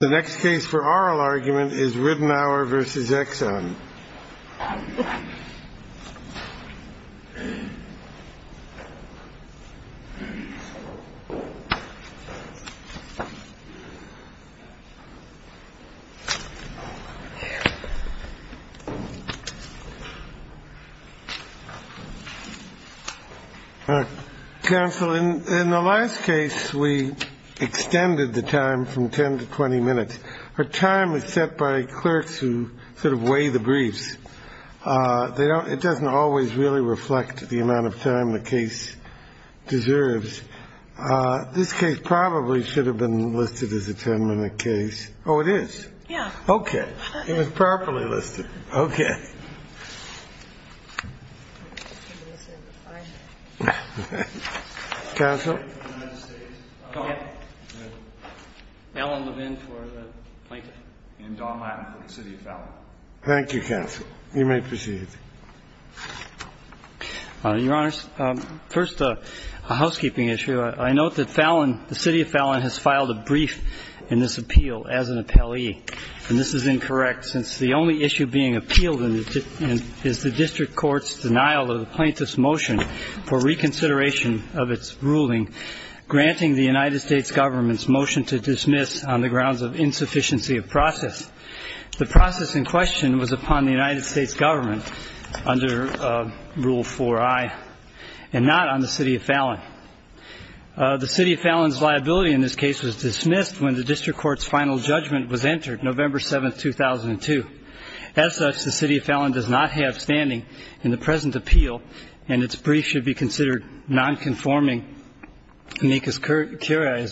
The next case for oral argument is Ridenour v. Exxon. Counsel, in the last case, we extended the time from 10 to 20 minutes. Our time is set by clerks who sort of weigh the briefs. They don't – it doesn't always really reflect the amount of time the case deserves. This case probably should have been listed as a 10-minute case. Oh, it is? Yeah. Okay. It was properly listed. Okay. Counsel. Thank you, counsel. You may proceed. Your Honors, first a housekeeping issue. I note that Fallon, the City of Fallon, has filed a brief in this appeal as an appellee, and this is incorrect since the only issue being appealed is the district court's denial of the plaintiff's motion for reconsideration of its ruling granting the United States government's motion to dismiss on the grounds of insufficiency of process. The process in question was upon the United States government under Rule 4i and not on the City of Fallon. The City of Fallon's liability in this case was dismissed when the district court's final judgment was entered, November 7, 2002. As such, the City of Fallon does not have standing in the present appeal, and its brief should be considered nonconforming amicus curiae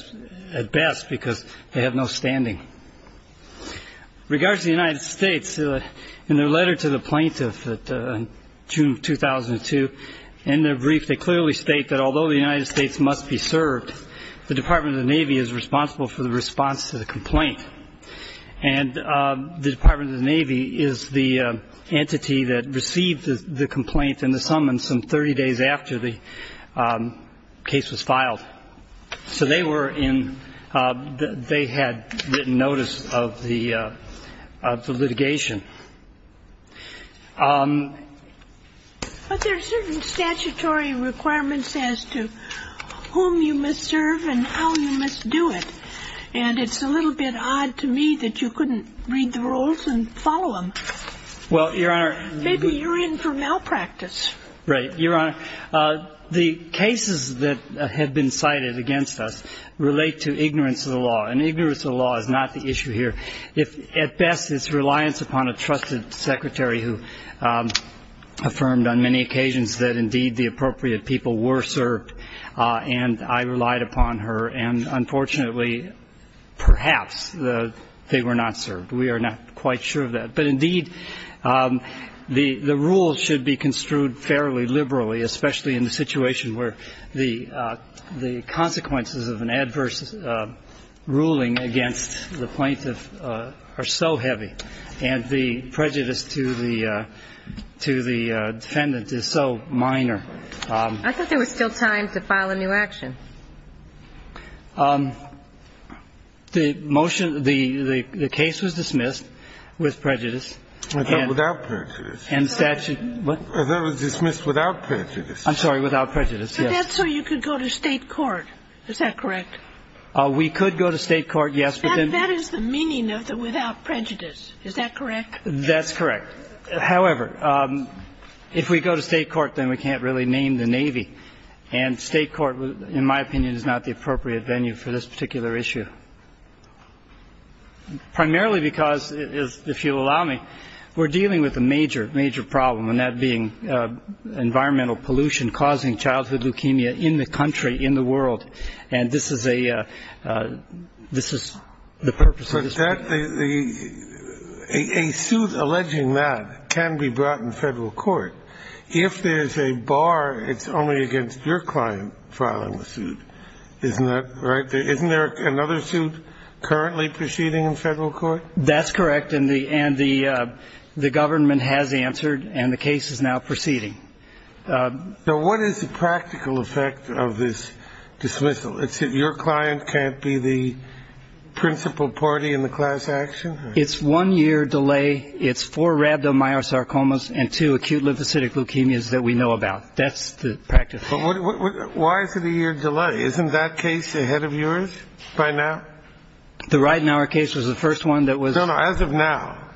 at best because they have no standing. In regards to the United States, in their letter to the plaintiff in June of 2002, in their brief, they clearly state that although the United States must be served, the Department of the Navy is responsible for the response to the complaint. And the Department of the Navy is the entity that received the complaint and the summons some 30 days after the case was filed. So they were in the they had written notice of the litigation. But there are certain statutory requirements as to whom you must serve and how you must do it. And it's a little bit odd to me that you couldn't read the rules and follow them. Well, Your Honor. Maybe you're in for malpractice. Right. Your Honor, the cases that have been cited against us relate to ignorance of the law. And ignorance of the law is not the issue here. At best, it's reliance upon a trusted secretary who affirmed on many occasions that, indeed, the appropriate people were served and I relied upon her. And unfortunately, perhaps they were not served. We are not quite sure of that. But, indeed, the rules should be construed fairly liberally, especially in the situation where the consequences of an adverse ruling against the plaintiff are so heavy and the prejudice to the defendant is so minor. I thought there was still time to file a new action. The motion the case was dismissed with prejudice. Without prejudice. And statute. That was dismissed without prejudice. I'm sorry. Without prejudice, yes. But that's so you could go to State court. Is that correct? We could go to State court, yes. That is the meaning of the without prejudice. Is that correct? That's correct. However, if we go to State court, then we can't really name the Navy. And State court, in my opinion, is not the appropriate venue for this particular issue, primarily because, if you'll allow me, we're dealing with a major, major problem, and that being environmental pollution causing childhood leukemia in the country, in the world. And this is a this is the purpose of this. A suit alleging that can be brought in Federal court. If there's a bar, it's only against your client filing the suit. Isn't that right? Isn't there another suit currently proceeding in Federal court? That's correct. And the government has answered, and the case is now proceeding. Now, what is the practical effect of this dismissal? It's if your client can't be the principal party in the class action? It's one year delay. It's four rhabdomyosarcomas and two acute lymphocytic leukemias that we know about. That's the practice. Why is it a year delay? Isn't that case ahead of yours by now? The Ridenour case was the first one that was. No, no. As of now.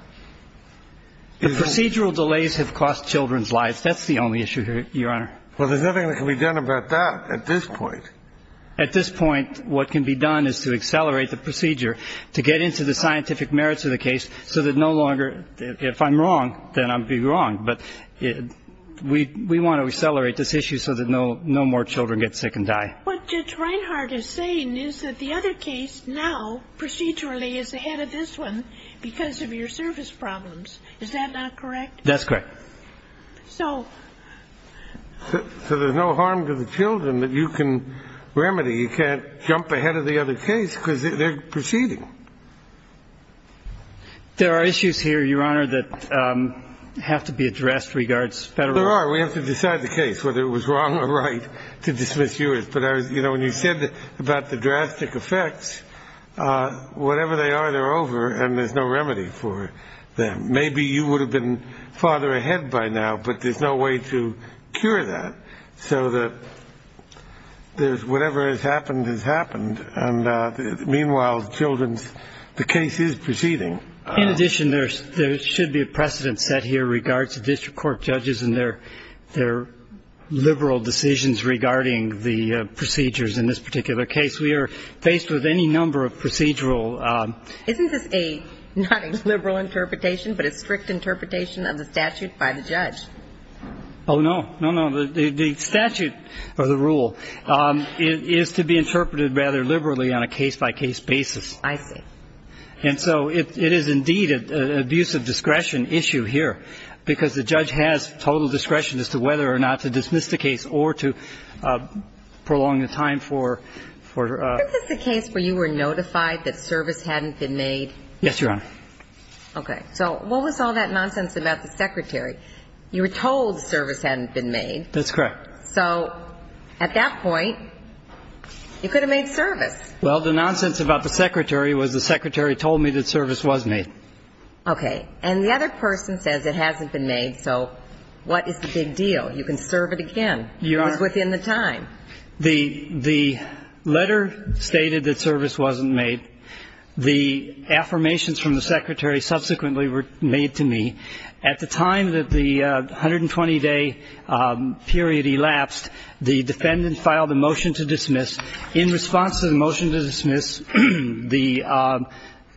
Procedural delays have cost children's lives. That's the only issue here, Your Honor. Well, there's nothing that can be done about that at this point. At this point, what can be done is to accelerate the procedure to get into the scientific merits of the case so that no longer. If I'm wrong, then I'd be wrong. But we want to accelerate this issue so that no no more children get sick and die. What Judge Reinhart is saying is that the other case now procedurally is ahead of this one because of your service problems. Is that not correct? That's correct. So. So there's no harm to the children that you can remedy. You can't jump ahead of the other case because they're proceeding. There are issues here, Your Honor, that have to be addressed regards federal. There are. We have to decide the case, whether it was wrong or right to dismiss yours. But, you know, when you said about the drastic effects, whatever they are, they're over and there's no remedy for them. Maybe you would have been farther ahead by now, but there's no way to cure that. So that there's whatever has happened has happened. And meanwhile, the children's the case is proceeding. In addition, there's there should be a precedent set here regards to district court judges and their their liberal decisions regarding the procedures. In this particular case, we are faced with any number of procedural. Isn't this a liberal interpretation, but a strict interpretation of the statute by the judge? Oh, no, no, no. The statute or the rule is to be interpreted rather liberally on a case by case basis. I see. And so it is indeed an abuse of discretion issue here because the judge has total discretion as to whether or not to dismiss the case or to prolong the time for for the case where you were notified that service hadn't been made. Yes, Your Honor. OK, so what was all that nonsense about the secretary? You were told service hadn't been made. That's correct. So at that point, you could have made service. Well, the nonsense about the secretary was the secretary told me that service was made. OK. And the other person says it hasn't been made. So what is the big deal? You can serve it again within the time. The the letter stated that service wasn't made. The affirmations from the secretary subsequently were made to me at the time that the 120 day period elapsed. The defendant filed a motion to dismiss. In response to the motion to dismiss, the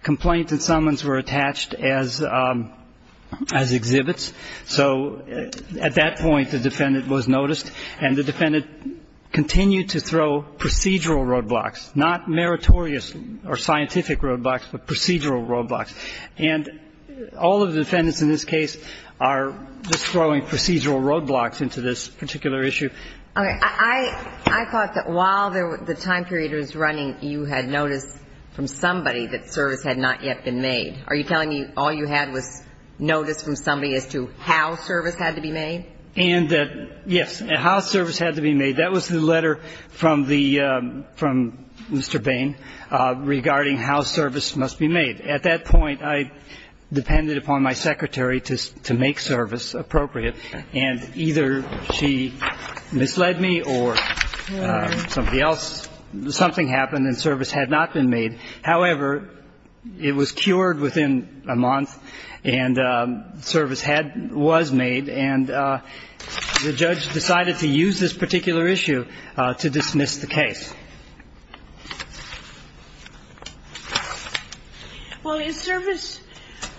complaint and summons were attached as exhibits. So at that point, the defendant was noticed. And the defendant continued to throw procedural roadblocks, not meritorious or scientific roadblocks, but procedural roadblocks. And all of the defendants in this case are just throwing procedural roadblocks into this particular issue. OK. I thought that while the time period was running, you had notice from somebody that service had not yet been made. Are you telling me all you had was notice from somebody as to how service had to be made? And yes, how service had to be made. That was the letter from Mr. Bain regarding how service must be made. At that point, I depended upon my secretary to make service appropriate. And either she misled me or somebody else, something happened and service had not been made. However, it was cured within a month and service was made. And the judge decided to use this particular issue to dismiss the case. Well, is service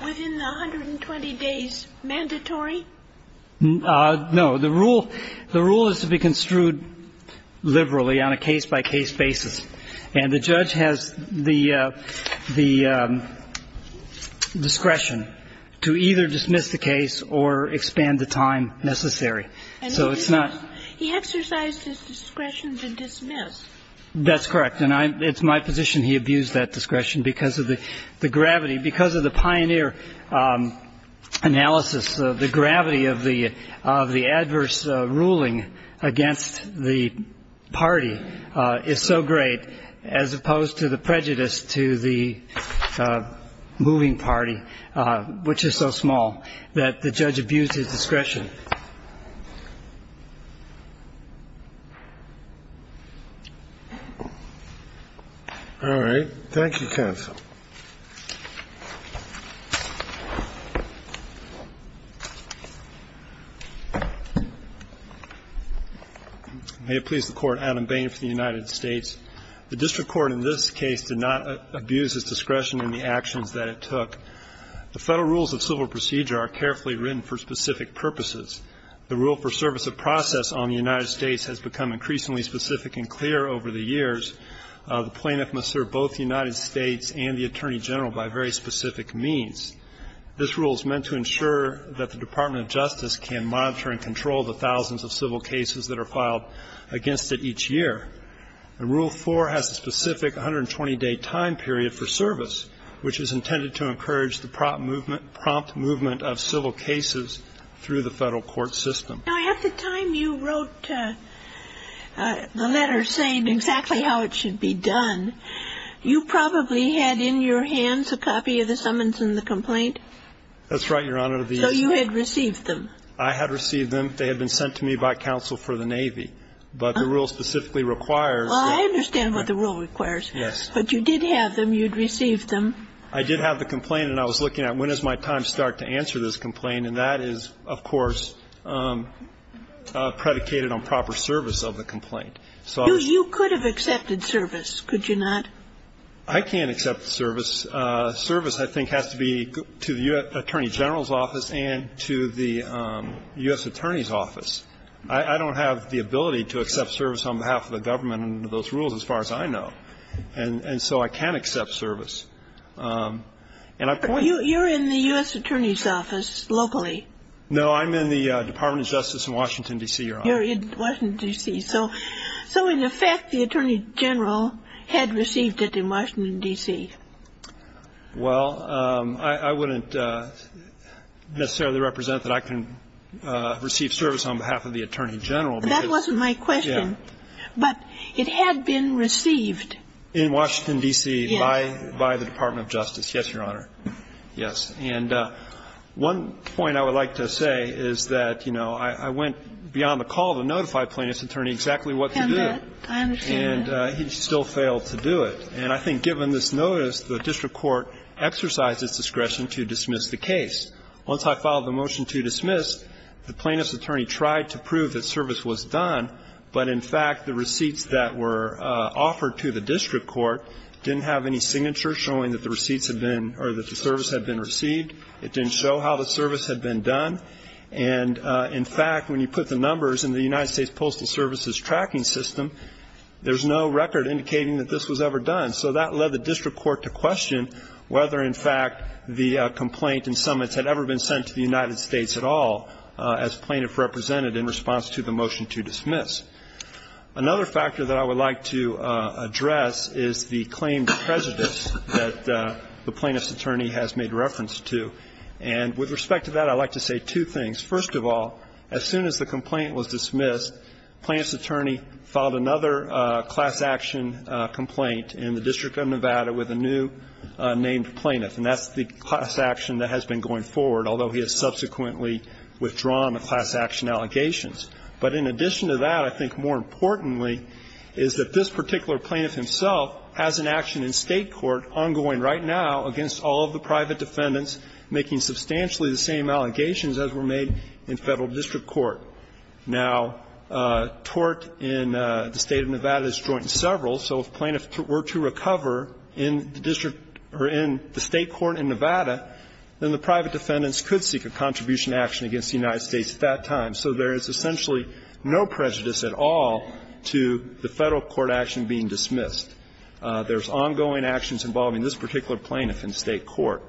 within the 120 days mandatory? No. The rule is to be construed liberally on a case-by-case basis. And the judge has the discretion to either dismiss the case or expand the time necessary. So it's not he exercised his discretion to dismiss. That's correct. And it's my position he abused that discretion because of the gravity. Because of the pioneer analysis, the gravity of the adverse ruling against the party is so great, as opposed to the prejudice to the moving party, which is so small, that the judge abused his discretion. All right. Thank you, counsel. May it please the Court. Adam Bain for the United States. The district court in this case did not abuse its discretion in the actions that it took. The federal rules of civil procedure are carefully written for specific purposes. The rule for service of process on the United States has become increasingly specific and clear over the years. The plaintiff must serve both the United States and the attorney general by very specific means. This rule is meant to ensure that the Department of Justice can monitor and control the thousands of civil cases that are filed against it each year. And Rule 4 has a specific 120-day time period for service, which is intended to encourage the prompt movement of civil cases through the federal court system. Now, at the time you wrote the letter saying exactly how it should be done, you probably had in your hands a copy of the summons and the complaint. That's right, Your Honor. So you had received them. I had received them. They had been sent to me by counsel for the Navy. But the rule specifically requires that. Well, I understand what the rule requires. Yes. But you did have them. You had received them. I did have the complaint. And I was looking at when does my time start to answer this complaint. And that is, of course, predicated on proper service of the complaint. You could have accepted service, could you not? I can't accept service. Service, I think, has to be to the attorney general's office and to the U.S. attorney's office. I don't have the ability to accept service on behalf of the government under those rules as far as I know. And so I can't accept service. You're in the U.S. attorney's office locally. No, I'm in the Department of Justice in Washington, D.C., Your Honor. You're in Washington, D.C. So in effect, the attorney general had received it in Washington, D.C. Well, I wouldn't necessarily represent that I can receive service on behalf of the attorney general. That wasn't my question. Yeah. But it had been received. In Washington, D.C. Yes. By the Department of Justice. Yes, Your Honor. Yes. And one point I would like to say is that, you know, I went beyond the call to notify plaintiff's attorney exactly what to do. And he still failed to do it. And I think given this notice, the district court exercised its discretion to dismiss the case. Once I filed the motion to dismiss, the plaintiff's attorney tried to prove that service was done, but, in fact, the receipts that were offered to the district court didn't have any signature showing that the receipts had been or that the service had been received. It didn't show how the service had been done. And, in fact, when you put the numbers in the United States Postal Service's tracking system, there's no record indicating that this was ever done. So that led the district court to question whether, in fact, the complaint in Summits had ever been sent to the United States at all as plaintiff represented in response to the motion to dismiss. Another factor that I would like to address is the claim to prejudice that the plaintiff's attorney has made reference to. And with respect to that, I'd like to say two things. First of all, as soon as the complaint was dismissed, plaintiff's attorney filed another class action complaint in the District of Nevada with a new named plaintiff. And that's the class action that has been going forward, although he has subsequently withdrawn the class action allegations. But in addition to that, I think more importantly, is that this particular plaintiff himself has an action in State court ongoing right now against all of the private defendants, making substantially the same allegations as were made in Federal District Court. Now, tort in the State of Nevada is joint in several. So if plaintiffs were to recover in the district or in the State court in Nevada, then the private defendants could seek a contribution action against the United States at that time. So there is essentially no prejudice at all to the Federal court action being dismissed. There's ongoing actions involving this particular plaintiff in State court.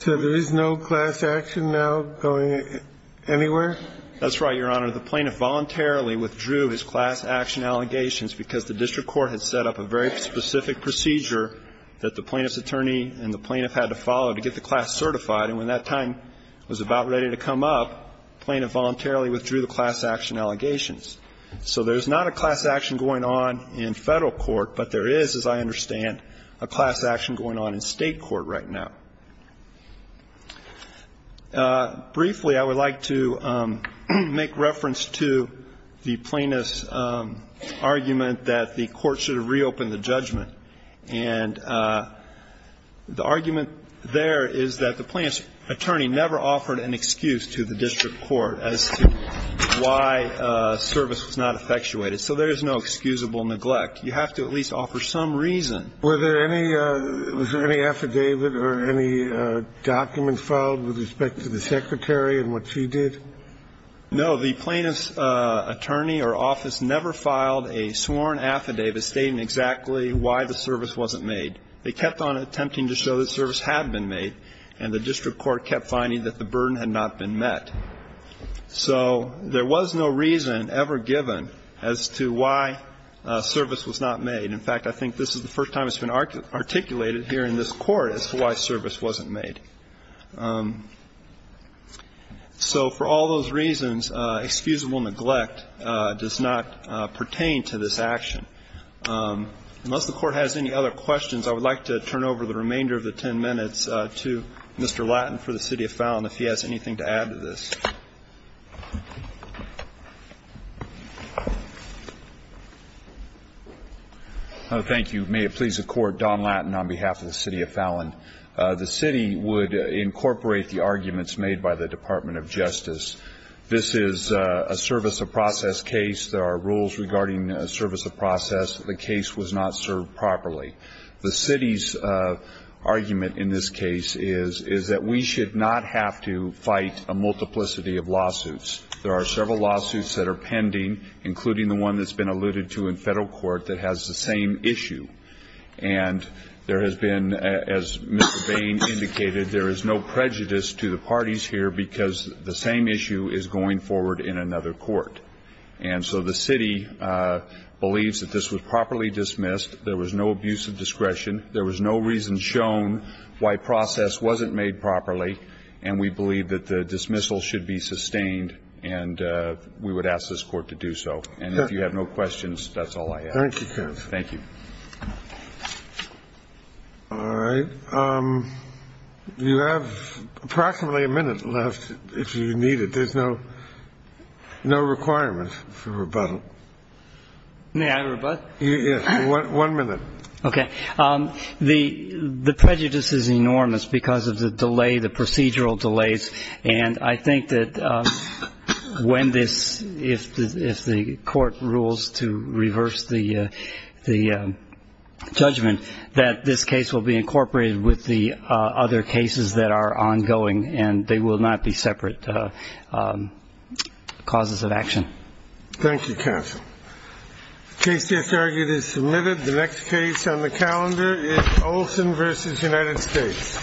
So there is no class action now going anywhere? That's right, Your Honor. The plaintiff voluntarily withdrew his class action allegations because the district court had set up a very specific procedure that the plaintiff's attorney and the plaintiff had to follow to get the class certified. And when that time was about ready to come up, the plaintiff voluntarily withdrew the class action allegations. So there's not a class action going on in Federal court, but there is, as I understand, a class action going on in State court right now. Briefly, I would like to make reference to the plaintiff's argument that the court should have reopened the judgment. And the argument there is that the plaintiff's attorney never offered an excuse to the district court as to why service was not effectuated. So there is no excusable neglect. You have to at least offer some reason. Were there any – was there any affidavit or any documents filed with respect to the secretary and what she did? No. The plaintiff's attorney or office never filed a sworn affidavit stating exactly why the service wasn't made. They kept on attempting to show that service had been made, and the district court kept finding that the burden had not been met. So there was no reason ever given as to why service was not made. In fact, I think this is the first time it's been articulated here in this Court as to why service wasn't made. So for all those reasons, excusable neglect does not pertain to this action. Unless the Court has any other questions, I would like to turn over the remainder of the 10 minutes to Mr. Lattin for the City of Fallon if he has anything to add to this. Thank you. May it please the Court, Don Lattin on behalf of the City of Fallon. The City would incorporate the arguments made by the Department of Justice. This is a service of process case. There are rules regarding service of process. The case was not served properly. The City's argument in this case is that we should not have to fight a multiplicity of lawsuits. There are several lawsuits that are pending, including the one that's been alluded to in federal court that has the same issue. And there has been, as Mr. Bain indicated, there is no prejudice to the parties here because the same issue is going forward in another court. And so the City believes that this was properly dismissed. There was no abuse of discretion. There was no reason shown why process wasn't made properly. And we believe that the dismissal should be sustained and we would ask this Court to do so. And if you have no questions, that's all I have. Thank you, counsel. Thank you. All right. You have approximately a minute left if you need it. There's no requirement for rebuttal. May I rebut? Yes. One minute. Okay. The prejudice is enormous because of the delay, the procedural delays. And I think that when this, if the court rules to reverse the judgment, that this case will be incorporated with the other cases that are ongoing and they will not be separate causes of action. Thank you, counsel. The case is argued as submitted. The next case on the calendar is Olson v. United States.